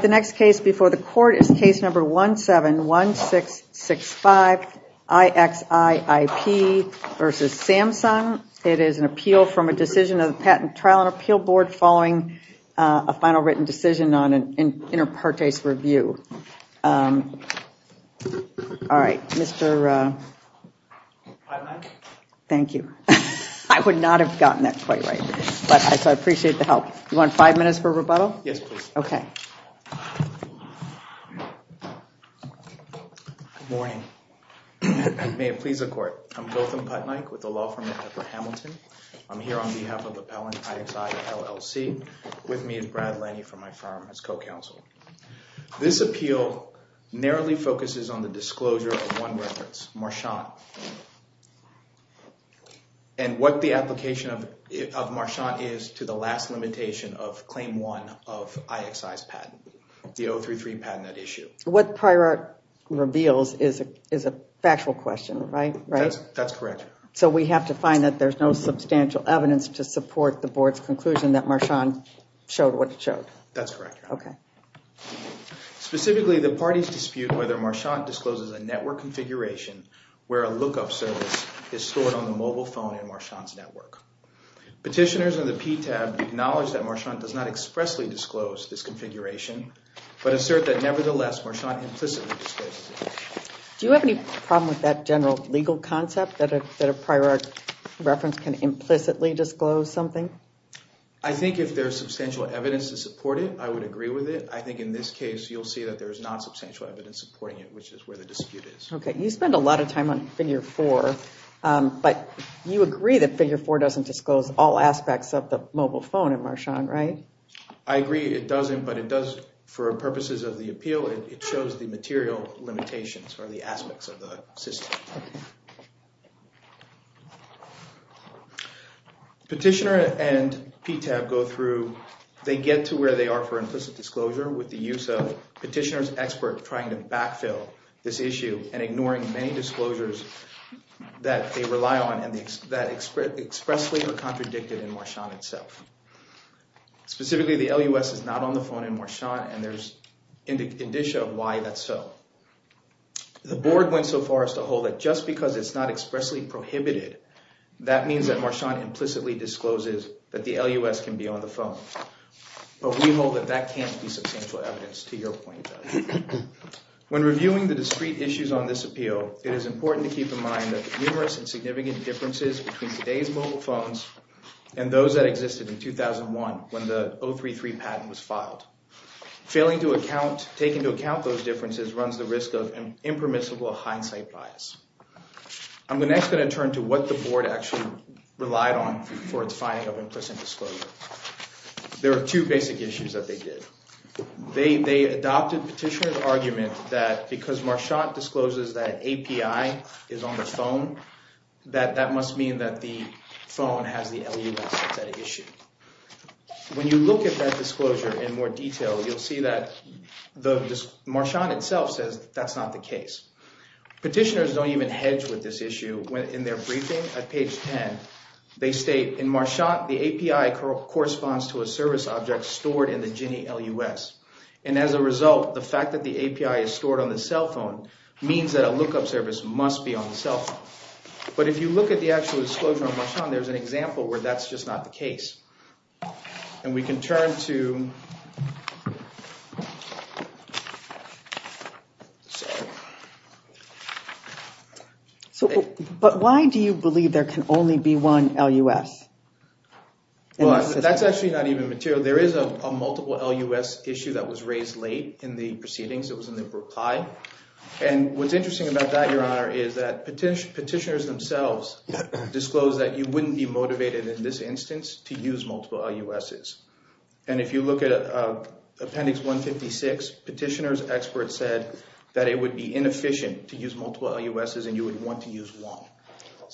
The next case before the Court is Case No. 171665, IXI IP v. Samsung. It is an appeal from a decision of the Patent, Trial, and Appeal Board following a final written decision on an inter partes review. All right, Mr. Thank you, I would not have gotten that quite right, but I appreciate the help. You want five minutes for rebuttal? Yes, okay. Good morning. May it please the Court. I'm Gautam Puttnaik with the law firm at Pepper Hamilton. I'm here on behalf of Appellant IXI, LLC. With me is Brad Lenny from my firm as co-counsel. This appeal narrowly focuses on the disclosure of one reference, Marchand, and what the application of Marchand is to the last limitation of Claim 1 of IXI's patent, the 033 patent at issue. What Prior Art reveals is a factual question, right? That's correct. So we have to find that there's no substantial evidence to support the Board's conclusion that Marchand showed what it showed? That's correct. Specifically, the parties dispute whether Marchand discloses a network configuration where a lookup service is stored on the mobile phone in Marchand's network. Petitioners in the PTAB acknowledge that Marchand does not expressly disclose this configuration, but assert that nevertheless Marchand implicitly discloses it. Do you have any problem with that general legal concept that a Prior Art reference can implicitly disclose something? I think if there's substantial evidence to support it, I would agree with it. I think in this case, you'll see that there's not substantial evidence supporting it, which is where the dispute is. Okay. You spend a lot of time on Figure 4, but you agree that Figure 4 doesn't disclose all aspects of the mobile phone in Marchand, right? I agree it doesn't, but it does, for purposes of the appeal, it shows the material limitations or the aspects of the system. Petitioner and PTAB go through – they get to where they are for implicit disclosure with the use of petitioner's expert trying to backfill this issue and ignoring many disclosures that they rely on and that expressly or contradicted in Marchand itself. Specifically, the LUS is not on the phone in Marchand, and there's indicia of why that's so. The board went so far as to hold that just because it's not expressly prohibited, that means that Marchand implicitly discloses that the LUS can be on the phone. But we hold that that can't be substantial evidence to your point. When reviewing the discrete issues on this appeal, it is important to keep in mind that the numerous and significant differences between today's mobile phones and those that existed in 2001 when the 033 patent was filed, failing to take into account those differences runs the risk of impermissible hindsight bias. I'm next going to turn to what the board actually relied on for its finding of implicit disclosure. There are two basic issues that they did. They adopted petitioner's argument that because Marchand discloses that API is on the phone, that that must mean that the phone has the LUS as that issue. When you look at that disclosure in more detail, you'll see that Marchand itself says that's not the case. Petitioners don't even hedge with this issue. In their briefing at page 10, they state, in Marchand, the API corresponds to a service object stored in the GINI LUS. And as a result, the fact that the API is stored on the cell phone means that a lookup service must be on the cell phone. But if you look at the actual disclosure on Marchand, there's an example where that's just not the case. And we can turn to… But why do you believe there can only be one LUS? Well, that's actually not even material. There is a multiple LUS issue that was raised late in the proceedings. It was in the reply. And what's interesting about that, Your Honor, is that petitioners themselves disclosed that you wouldn't be motivated in this instance to use multiple LUSs. And if you look at Appendix 156, petitioners' experts said that it would be inefficient to use multiple LUSs and you would want to use one.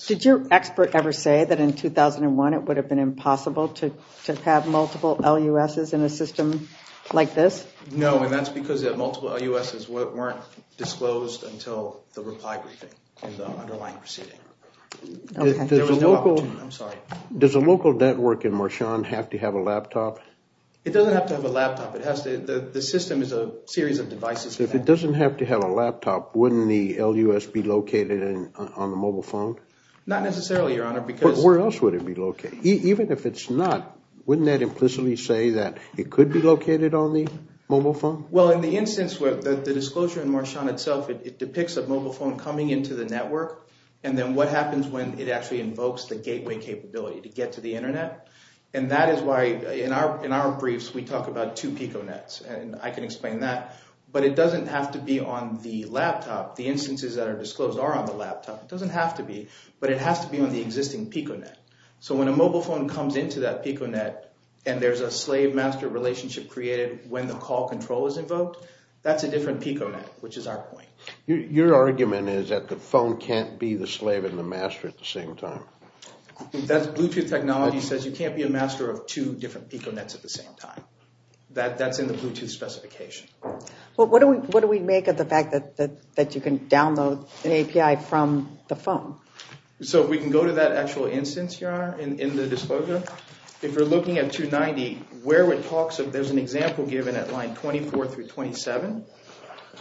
Did your expert ever say that in 2001 it would have been impossible to have multiple LUSs in a system like this? No, and that's because the multiple LUSs weren't disclosed until the reply briefing in the underlying proceeding. There was no opportunity. I'm sorry. Does a local network in Marchand have to have a laptop? It doesn't have to have a laptop. The system is a series of devices. If it doesn't have to have a laptop, wouldn't the LUS be located on the mobile phone? Not necessarily, Your Honor, because… Wouldn't that implicitly say that it could be located on the mobile phone? Well, in the instance where the disclosure in Marchand itself, it depicts a mobile phone coming into the network. And then what happens when it actually invokes the gateway capability to get to the Internet? And that is why in our briefs we talk about two PicoNets, and I can explain that. But it doesn't have to be on the laptop. The instances that are disclosed are on the laptop. It doesn't have to be, but it has to be on the existing PicoNet. So when a mobile phone comes into that PicoNet and there's a slave-master relationship created when the call control is invoked, that's a different PicoNet, which is our point. Your argument is that the phone can't be the slave and the master at the same time. Bluetooth technology says you can't be a master of two different PicoNets at the same time. That's in the Bluetooth specification. What do we make of the fact that you can download an API from the phone? So we can go to that actual instance, Your Honor, in the disclosure. If you're looking at 290, there's an example given at line 24 through 27,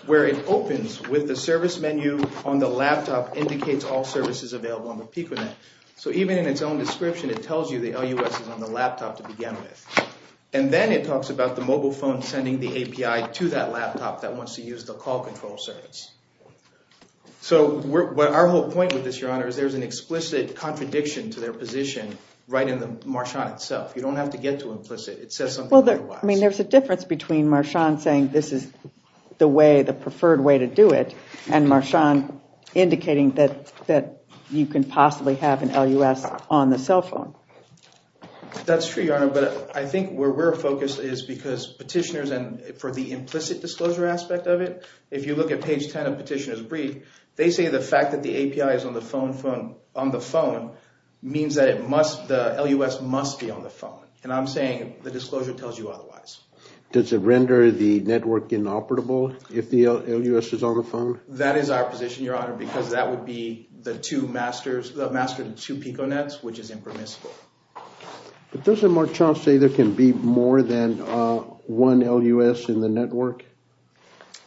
where it opens with the service menu on the laptop indicates all services available on the PicoNet. So even in its own description, it tells you the LUS is on the laptop to begin with. And then it talks about the mobile phone sending the API to that laptop that wants to use the call control service. So our whole point with this, Your Honor, is there's an explicit contradiction to their position right in the Marchand itself. You don't have to get to implicit. It says something otherwise. I mean, there's a difference between Marchand saying this is the preferred way to do it and Marchand indicating that you can possibly have an LUS on the cell phone. That's true, Your Honor, but I think where we're focused is because petitioners, for the implicit disclosure aspect of it, if you look at page 10 of Petitioner's Brief, they say the fact that the API is on the phone means that the LUS must be on the phone. And I'm saying the disclosure tells you otherwise. Does it render the network inoperable if the LUS is on the phone? That is our position, Your Honor, because that would be the master to two PicoNets, which is impermissible. But doesn't Marchand say there can be more than one LUS in the network?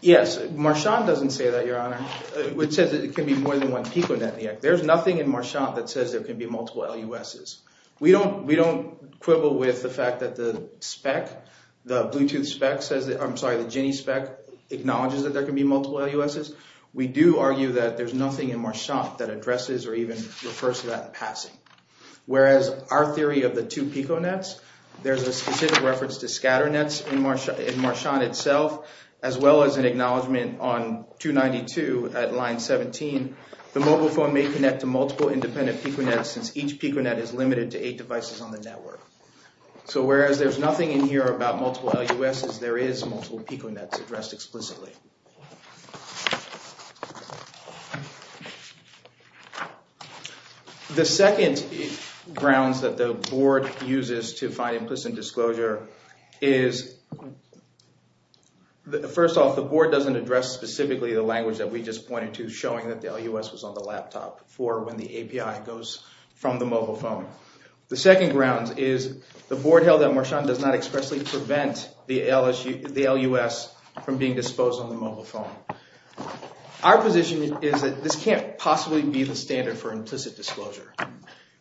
Yes, Marchand doesn't say that, Your Honor. It says that it can be more than one PicoNet. There's nothing in Marchand that says there can be multiple LUSs. We don't quibble with the fact that the Bluetooth spec says – I'm sorry, the GINI spec acknowledges that there can be multiple LUSs. We do argue that there's nothing in Marchand that addresses or even refers to that in passing, whereas our theory of the two PicoNets, there's a specific reference to scatter nets in Marchand itself, as well as an acknowledgment on 292 at line 17. The mobile phone may connect to multiple independent PicoNets since each PicoNet is limited to eight devices on the network. So whereas there's nothing in here about multiple LUSs, there is multiple PicoNets addressed explicitly. The second grounds that the board uses to find implicit disclosure is, first off, the board doesn't address specifically the language that we just pointed to, showing that the LUS was on the laptop for when the API goes from the mobile phone. The second grounds is the board held that Marchand does not expressly prevent the LUS from being disposed on the mobile phone. Our position is that this can't possibly be the standard for implicit disclosure,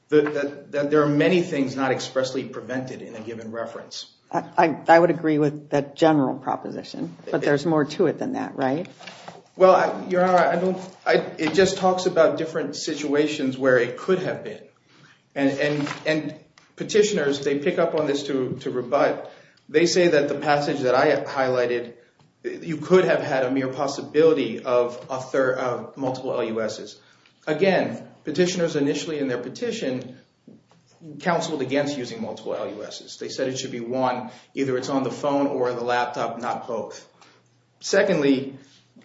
that there are many things not expressly prevented in a given reference. I would agree with that general proposition, but there's more to it than that, right? Well, Your Honor, it just talks about different situations where it could have been, and petitioners, they pick up on this to rebut. They say that the passage that I highlighted, you could have had a mere possibility of multiple LUSs. Again, petitioners initially in their petition counseled against using multiple LUSs. They said it should be one, either it's on the phone or the laptop, not both. Secondly,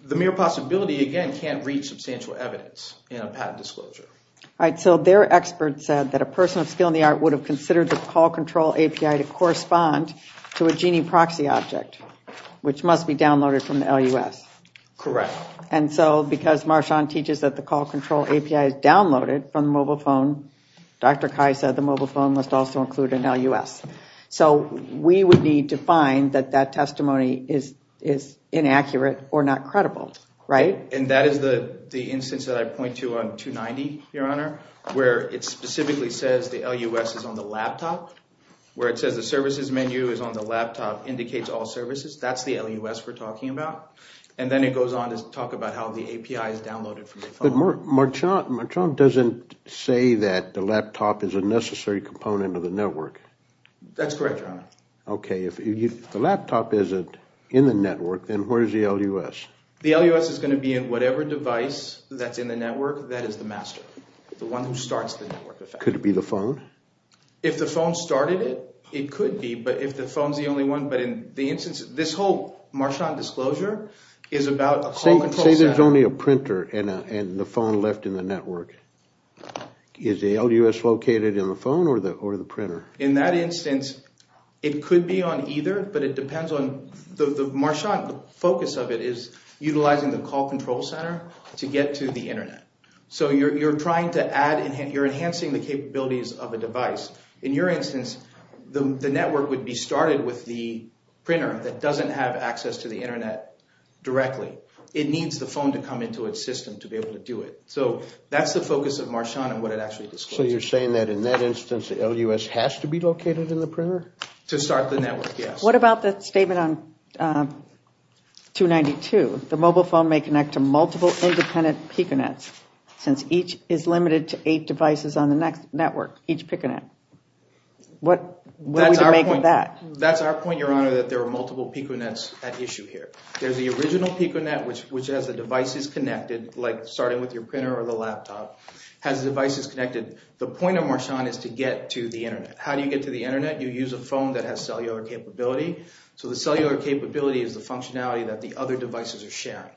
the mere possibility, again, can't reach substantial evidence in a patent disclosure. All right, so their expert said that a person of skill in the art would have considered the call control API to correspond to a genie proxy object, which must be downloaded from the LUS. Correct. And so because Marchand teaches that the call control API is downloaded from the mobile phone, Dr. Kai said the mobile phone must also include an LUS. So we would need to find that that testimony is inaccurate or not credible, right? And that is the instance that I point to on 290, Your Honor, where it specifically says the LUS is on the laptop, where it says the services menu is on the laptop, indicates all services. That's the LUS we're talking about. And then it goes on to talk about how the API is downloaded from the phone. Marchand doesn't say that the laptop is a necessary component of the network. That's correct, Your Honor. Okay, if the laptop isn't in the network, then where is the LUS? The LUS is going to be in whatever device that's in the network that is the master, the one who starts the network. Could it be the phone? If the phone started it, it could be, but if the phone's the only one. But in the instance, this whole Marchand disclosure is about a call control set. If there's only a printer and the phone left in the network, is the LUS located in the phone or the printer? In that instance, it could be on either, but it depends on the Marchand. The focus of it is utilizing the call control center to get to the Internet. So you're enhancing the capabilities of a device. In your instance, the network would be started with the printer that doesn't have access to the Internet directly. It needs the phone to come into its system to be able to do it. So that's the focus of Marchand and what it actually discloses. So you're saying that in that instance, the LUS has to be located in the printer? To start the network, yes. What about the statement on 292? The mobile phone may connect to multiple independent PicoNets since each is limited to eight devices on the network, each PicoNet. What would you make of that? That's our point, Your Honor, that there are multiple PicoNets at issue here. There's the original PicoNet, which has the devices connected, like starting with your printer or the laptop, has devices connected. The point of Marchand is to get to the Internet. How do you get to the Internet? You use a phone that has cellular capability. So the cellular capability is the functionality that the other devices are sharing,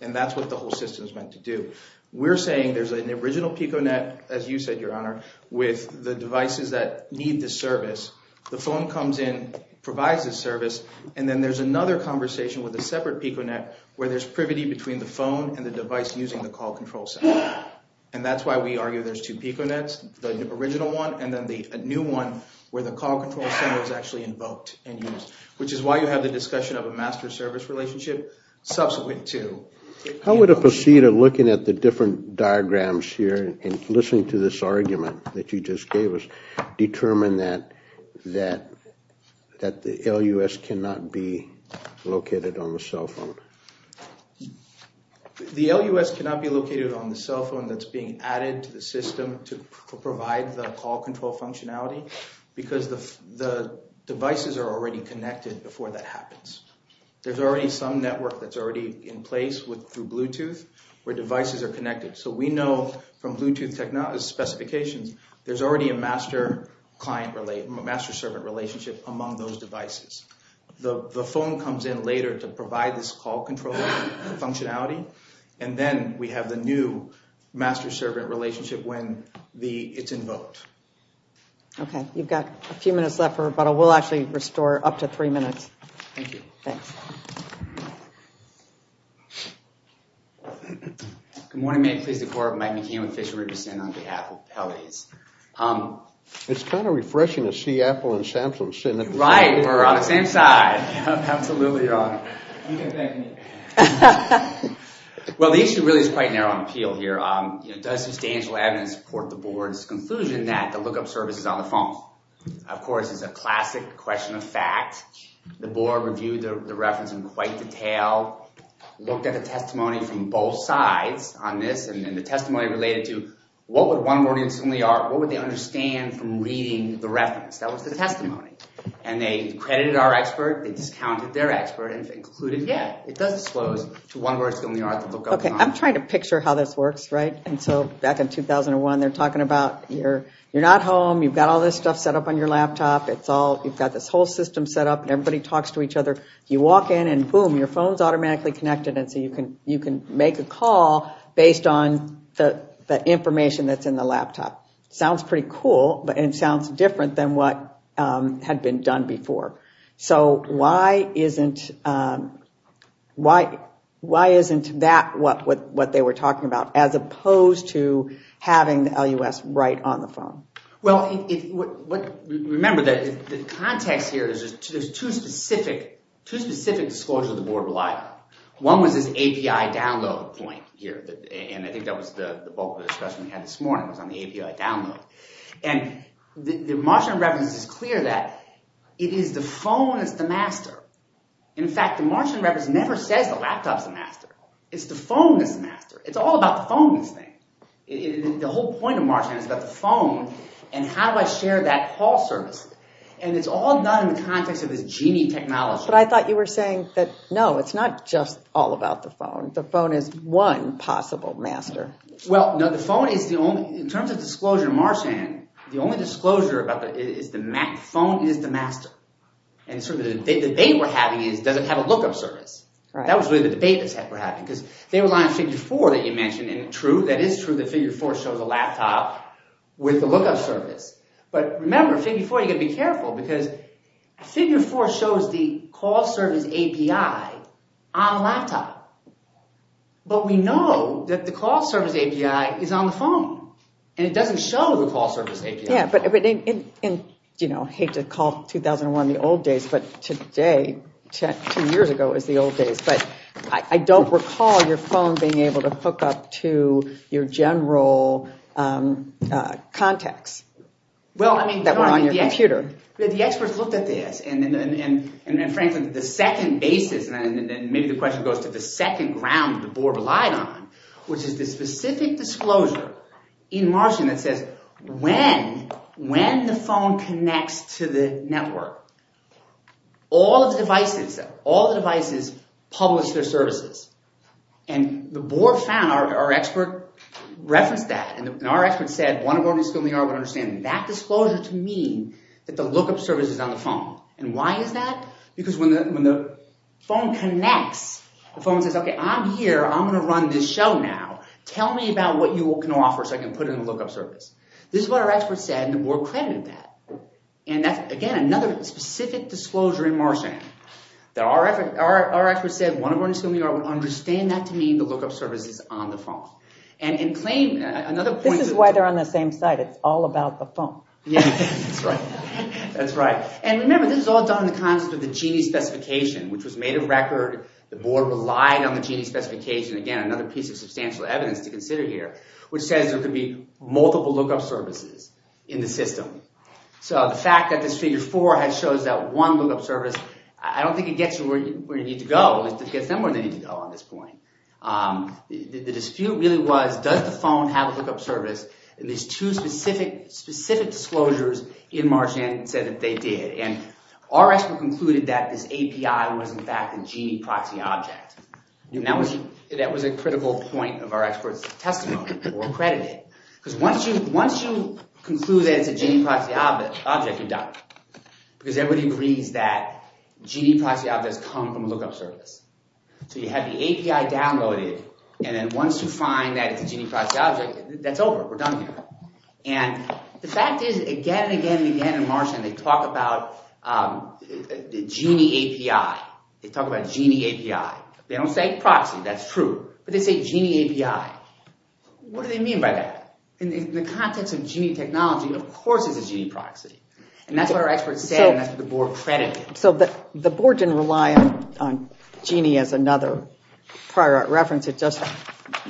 and that's what the whole system is meant to do. We're saying there's an original PicoNet, as you said, Your Honor, with the devices that need the service. The phone comes in, provides the service, and then there's another conversation with a separate PicoNet where there's privity between the phone and the device using the call control center. And that's why we argue there's two PicoNets, the original one and then the new one where the call control center is actually invoked and used, which is why you have the discussion of a master-service relationship subsequent to— How would it proceed of looking at the different diagrams here and listening to this argument that you just gave us, determine that the LUS cannot be located on the cell phone? The LUS cannot be located on the cell phone that's being added to the system to provide the call control functionality because the devices are already connected before that happens. There's already some network that's already in place through Bluetooth where devices are connected. So we know from Bluetooth specifications there's already a master-servant relationship among those devices. The phone comes in later to provide this call control functionality, and then we have the new master-servant relationship when it's invoked. Okay. You've got a few minutes left for rebuttal. We'll actually restore up to three minutes. Thank you. Thanks. Good morning, ma'am. Pleased to co-operate with Mike McCain with Fisher & Richardson on behalf of Pelley's. It's kind of refreshing to see Apple and Samsung sitting at the same table. Right. We're on the same side. Absolutely wrong. You can thank me. Well, the issue really is quite narrow on appeal here. There's substantial evidence to support the board's conclusion that the lookup service is on the phone. Of course, it's a classic question of fact. The board reviewed the reference in quite detail, looked at the testimony from both sides on this, and the testimony related to what would one audience in the yard, what would they understand from reading the reference? That was the testimony. And they credited our expert, they discounted their expert, and concluded, yeah, it does disclose to one audience in the yard the lookup is on the phone. I'm trying to picture how this works, right? And so back in 2001, they're talking about you're not home, you've got all this stuff set up on your laptop, you've got this whole system set up and everybody talks to each other. You walk in and boom, your phone's automatically connected and so you can make a call based on the information that's in the laptop. Sounds pretty cool and sounds different than what had been done before. So why isn't that what they were talking about as opposed to having the LUS right on the phone? Well, remember the context here is there's two specific disclosures the board relied on. One was this API download point here, and I think that was the bulk of the discussion we had this morning was on the API download. And the Martian reference is clear that it is the phone that's the master. In fact, the Martian reference never says the laptop's the master. It's the phone that's the master. It's all about the phone this thing. The whole point of Martian is about the phone and how do I share that call service. And it's all done in the context of this genie technology. But I thought you were saying that, no, it's not just all about the phone. The phone is one possible master. Well, no, the phone is the only – in terms of disclosure in Martian, the only disclosure about it is the phone is the master. And sort of the debate we're having is does it have a lookup service. That was really the debate we're having because they rely on Figure 4 that you mentioned. And true, that is true that Figure 4 shows a laptop with a lookup service. But remember, Figure 4, you've got to be careful because Figure 4 shows the call service API on a laptop. But we know that the call service API is on the phone, and it doesn't show the call service API. Yeah, but I hate to call 2001 the old days, but today, two years ago, is the old days. But I don't recall your phone being able to hook up to your general contacts that were on your computer. The experts looked at this, and frankly, the second basis, and maybe the question goes to the second ground the board relied on, which is the specific disclosure in Martian that says when the phone connects to the network, all of the devices publish their services. And the board found our expert referenced that. And our expert said, one of our new students would understand that disclosure to mean that the lookup service is on the phone. And why is that? Because when the phone connects, the phone says, okay, I'm here. I'm going to run this show now. Tell me about what you can offer so I can put in a lookup service. This is what our expert said, and the board credited that. And that's, again, another specific disclosure in Martian. Our expert said, one of our new students would understand that to mean the lookup service is on the phone. This is why they're on the same side. It's all about the phone. Yeah, that's right. That's right. And remember, this is all done in the context of the Gini specification, which was made of record. The board relied on the Gini specification. Again, another piece of substantial evidence to consider here, which says there could be multiple lookup services in the system. So the fact that this figure four shows that one lookup service, I don't think it gets you where you need to go. It gets them where they need to go on this point. The dispute really was, does the phone have a lookup service? And these two specific disclosures in Martian said that they did. And our expert concluded that this API was, in fact, a Gini proxy object. That was a critical point of our expert's testimony. We'll credit it. Because once you conclude that it's a Gini proxy object, you're done. Because everybody agrees that Gini proxy objects come from a lookup service. So you have the API downloaded. And then once you find that it's a Gini proxy object, that's over. We're done here. And the fact is, again and again and again in Martian, they talk about the Gini API. They talk about Gini API. They don't say proxy. That's true. But they say Gini API. What do they mean by that? In the context of Gini technology, of course it's a Gini proxy. And that's what our expert said, and that's what the board credited. So the board didn't rely on Gini as another prior art reference. It just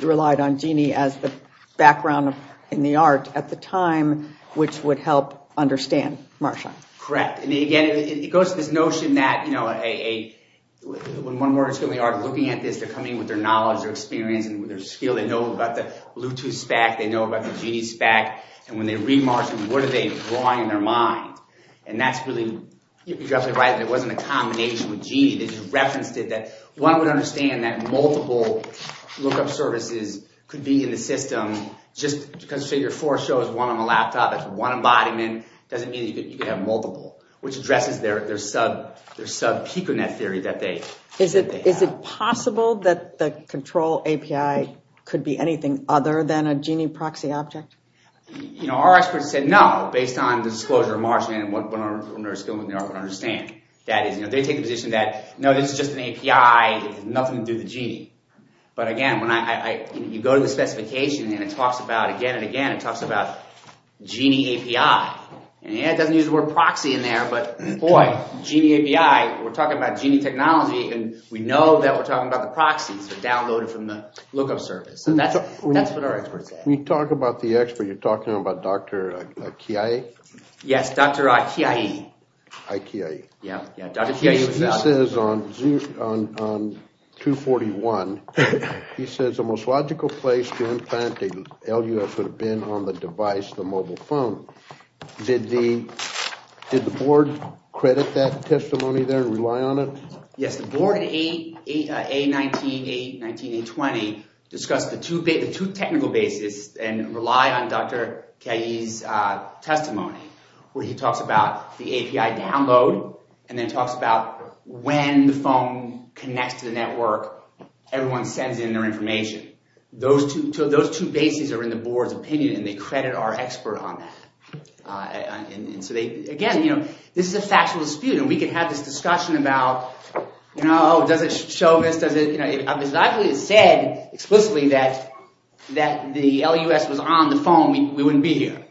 relied on Gini as the background in the art at the time, which would help understand Martian. Correct. And again, it goes to this notion that when one works in the art of looking at this, they're coming with their knowledge, their experience, and their skill. They know about the Bluetooth spec. They know about the Gini spec. And when they read Martian, what are they drawing in their mind? And that's really exactly right. It wasn't a combination with Gini. They just referenced it. One would understand that multiple lookup services could be in the system. Just because Figure 4 shows one on the laptop, that's one embodiment, doesn't mean that you could have multiple, which addresses their sub-PicoNet theory that they have. Is it possible that the control API could be anything other than a Gini proxy object? Our experts said no, based on the disclosure of Martian and what their skill in the art would understand. That is, they take the position that, no, this is just an API. It has nothing to do with Gini. But again, when you go to the specification, and it talks about, again and again, it talks about Gini API. It doesn't use the word proxy in there, but boy, Gini API, we're talking about Gini technology, and we know that we're talking about the proxy, so download it from the lookup service. That's what our experts said. When you talk about the expert, you're talking about Dr. Kiai? Yes, Dr. Kiai. Dr. Kiai. Yeah, Dr. Kiai. He says on 241, he says the most logical place to implant the LUF would have been on the device, the mobile phone. Did the board credit that testimony there and rely on it? Yes, the board in A19, A19, A20 discussed the two technical bases and rely on Dr. Kiai's testimony where he talks about the API download and then talks about when the phone connects to the network, everyone sends in their information. Those two bases are in the board's opinion, and they credit our expert on that. Again, this is a factual dispute, and we could have this discussion about, does it show this? If it was actually said explicitly that the LUS was on the phone, we wouldn't be here.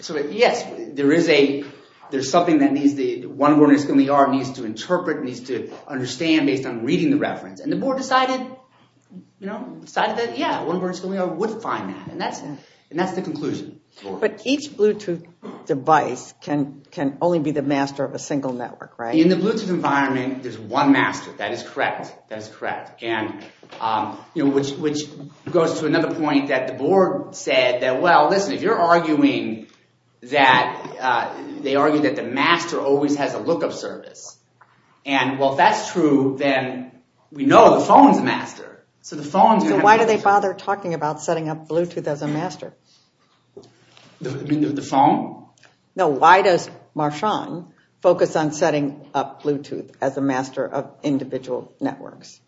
So, yes, there is something that needs the OneBoard and It's Going to be Art needs to interpret, needs to understand based on reading the reference. And the board decided that, yeah, OneBoard and It's Going to be Art would find that, and that's the conclusion. But each Bluetooth device can only be the master of a single network, right? In the Bluetooth environment, there's one master. That is correct. That is correct, which goes to another point that the board said that, well, listen, if you're arguing that the master always has a lookup service, and, well, if that's true, then we know the phone's the master. So the phone's going to have a lookup service. So why do they bother talking about setting up Bluetooth as a master? The phone? No, why does Marchand focus on setting up Bluetooth as a master of individual networks?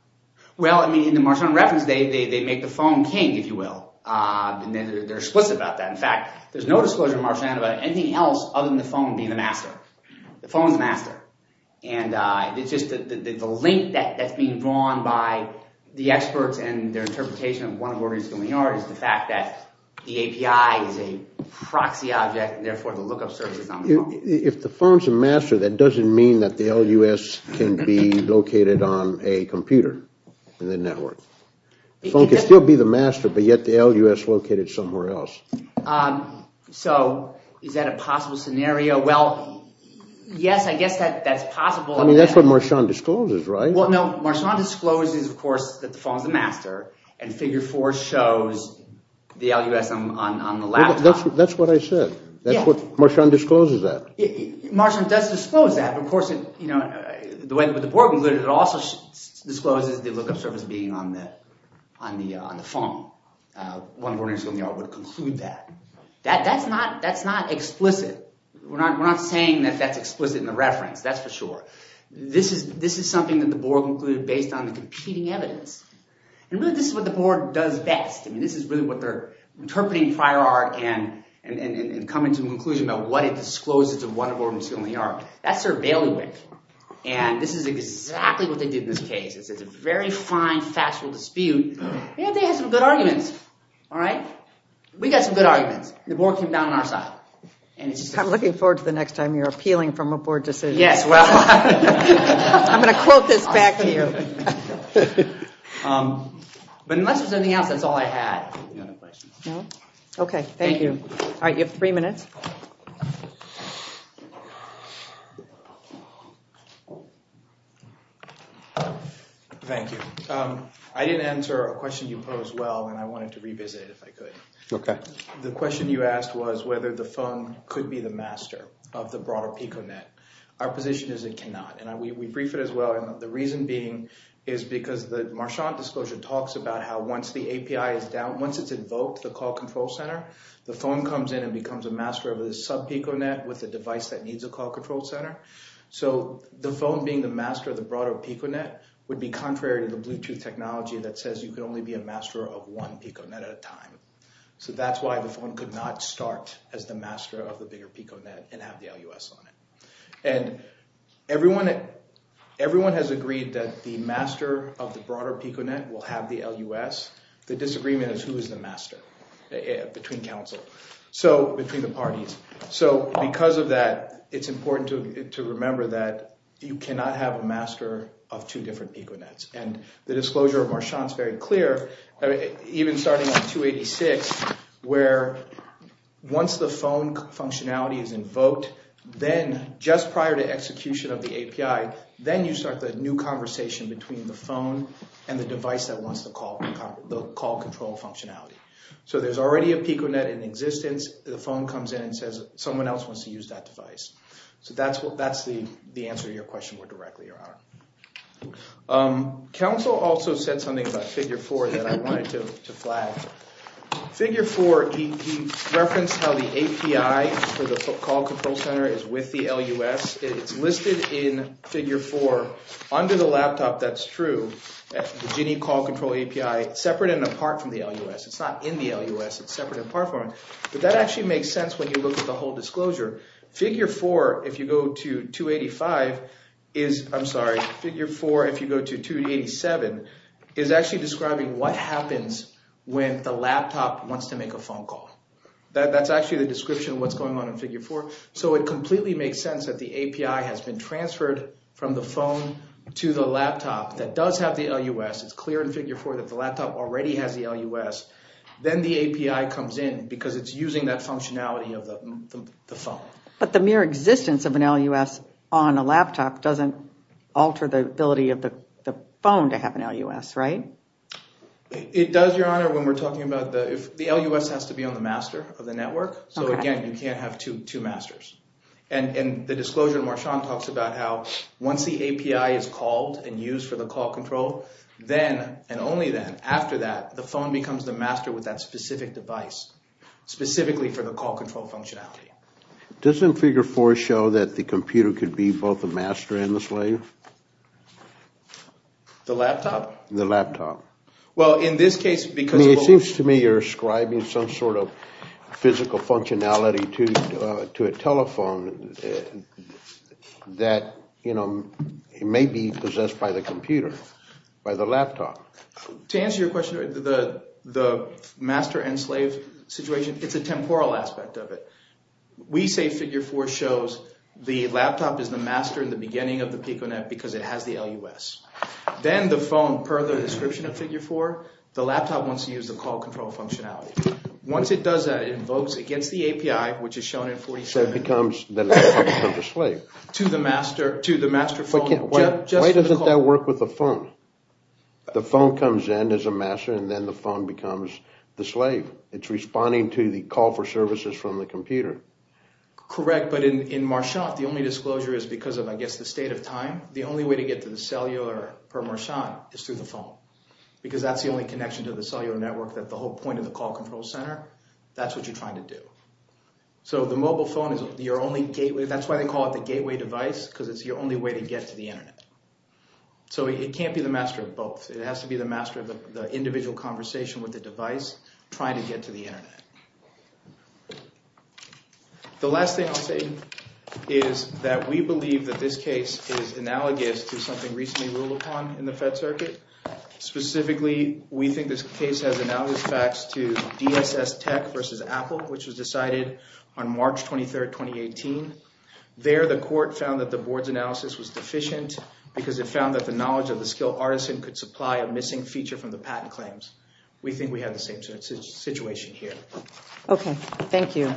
Well, in the Marchand reference, they make the phone king, if you will. They're explicit about that. In fact, there's no disclosure in Marchand about anything else other than the phone being the master. The phone's the master. And it's just that the link that's being drawn by the experts and their interpretation of OneBoard and It's Going to be Art is the fact that the API is a proxy object, and therefore the lookup service is not the phone. If the phone's the master, that doesn't mean that the LUS can be located on a computer in the network. The phone can still be the master, but yet the LUS is located somewhere else. So is that a possible scenario? Well, yes, I guess that's possible. I mean, that's what Marchand discloses, right? Well, no, Marchand discloses, of course, that the phone's the master, and Figure 4 shows the LUS on the laptop. That's what I said. Marchand discloses that. Marchand does disclose that. Of course, the way that the board included it, it also discloses the lookup service being on the phone. OneBoard and It's Going to be Art would conclude that. That's not explicit. We're not saying that that's explicit in the reference. That's for sure. This is something that the board included based on the competing evidence. And really, this is what the board does best. I mean, this is really what they're interpreting prior art and coming to a conclusion about what it discloses to OneBoard and It's Going to be Art. That's their bailiwick. And this is exactly what they did in this case. It's a very fine, factual dispute. And they had some good arguments, all right? We got some good arguments. The board came down on our side. I'm looking forward to the next time you're appealing from a board decision. Yes, well, I'm going to quote this back to you. But unless there's anything else, that's all I had. Okay, thank you. All right, you have three minutes. Thank you. I didn't answer a question you posed well, and I wanted to revisit it if I could. Okay. The question you asked was whether the phone could be the master of the broader PicoNet. Our position is it cannot. And we briefed it as well. The reason being is because the Marchant Disclosure talks about how once the API is down, the phone comes in and becomes a master of a sub-PicoNet with a device that needs a call control center. So the phone being the master of the broader PicoNet would be contrary to the Bluetooth technology that says you can only be a master of one PicoNet at a time. So that's why the phone could not start as the master of the bigger PicoNet and have the LUS on it. And everyone has agreed that the master of the broader PicoNet will have the LUS. The disagreement is who is the master between counsel, between the parties. So because of that, it's important to remember that you cannot have a master of two different PicoNets. And the disclosure of Marchant is very clear. Even starting at 286, where once the phone functionality is invoked, then just prior to execution of the API, then you start the new conversation between the phone and the device that wants the call control functionality. So there's already a PicoNet in existence. The phone comes in and says someone else wants to use that device. Counsel also said something about Figure 4 that I wanted to flag. Figure 4, he referenced how the API for the call control center is with the LUS. It's listed in Figure 4. Under the laptop, that's true. The Gini call control API, separate and apart from the LUS. It's not in the LUS. It's separate and apart from it. But that actually makes sense when you look at the whole disclosure. Figure 4, if you go to 287, is actually describing what happens when the laptop wants to make a phone call. That's actually the description of what's going on in Figure 4. So it completely makes sense that the API has been transferred from the phone to the laptop that does have the LUS. It's clear in Figure 4 that the laptop already has the LUS. Then the API comes in because it's using that functionality of the phone. But the mere existence of an LUS on a laptop doesn't alter the ability of the phone to have an LUS, right? It does, Your Honor, when we're talking about the LUS has to be on the master of the network. So again, you can't have two masters. And the disclosure in Marchand talks about how once the API is called and used for the call control, then and only then, after that, the phone becomes the master with that specific device, specifically for the call control functionality. Doesn't Figure 4 show that the computer could be both a master and a slave? The laptop? The laptop. It seems to me you're ascribing some sort of physical functionality to a telephone that may be possessed by the computer, by the laptop. To answer your question, the master and slave situation, it's a temporal aspect of it. We say Figure 4 shows the laptop is the master in the beginning of the PicoNet because it has the LUS. Then the phone, per the description of Figure 4, the laptop wants to use the call control functionality. Once it does that, it invokes against the API, which is shown in 47. So it becomes the master to the slave. To the master phone. Why doesn't that work with the phone? The phone comes in as a master and then the phone becomes the slave. It's responding to the call for services from the computer. Correct, but in Marchand, the only disclosure is because of, I guess, the state of time. The only way to get to the cellular, per Marchand, is through the phone because that's the only connection to the cellular network that the whole point of the call control center. That's what you're trying to do. So the mobile phone is your only gateway. That's why they call it the gateway device because it's your only way to get to the Internet. So it can't be the master of both. It has to be the master of the individual conversation with the device trying to get to the Internet. The last thing I'll say is that we believe that this case is analogous to something recently ruled upon in the Fed Circuit. Specifically, we think this case has analogous facts to DSS Tech versus Apple, which was decided on March 23rd, 2018. There, the court found that the board's analysis was deficient because it found that the knowledge of the skilled artisan could supply a missing feature from the patent claims. We think we have the same situation here. Okay. Thank you.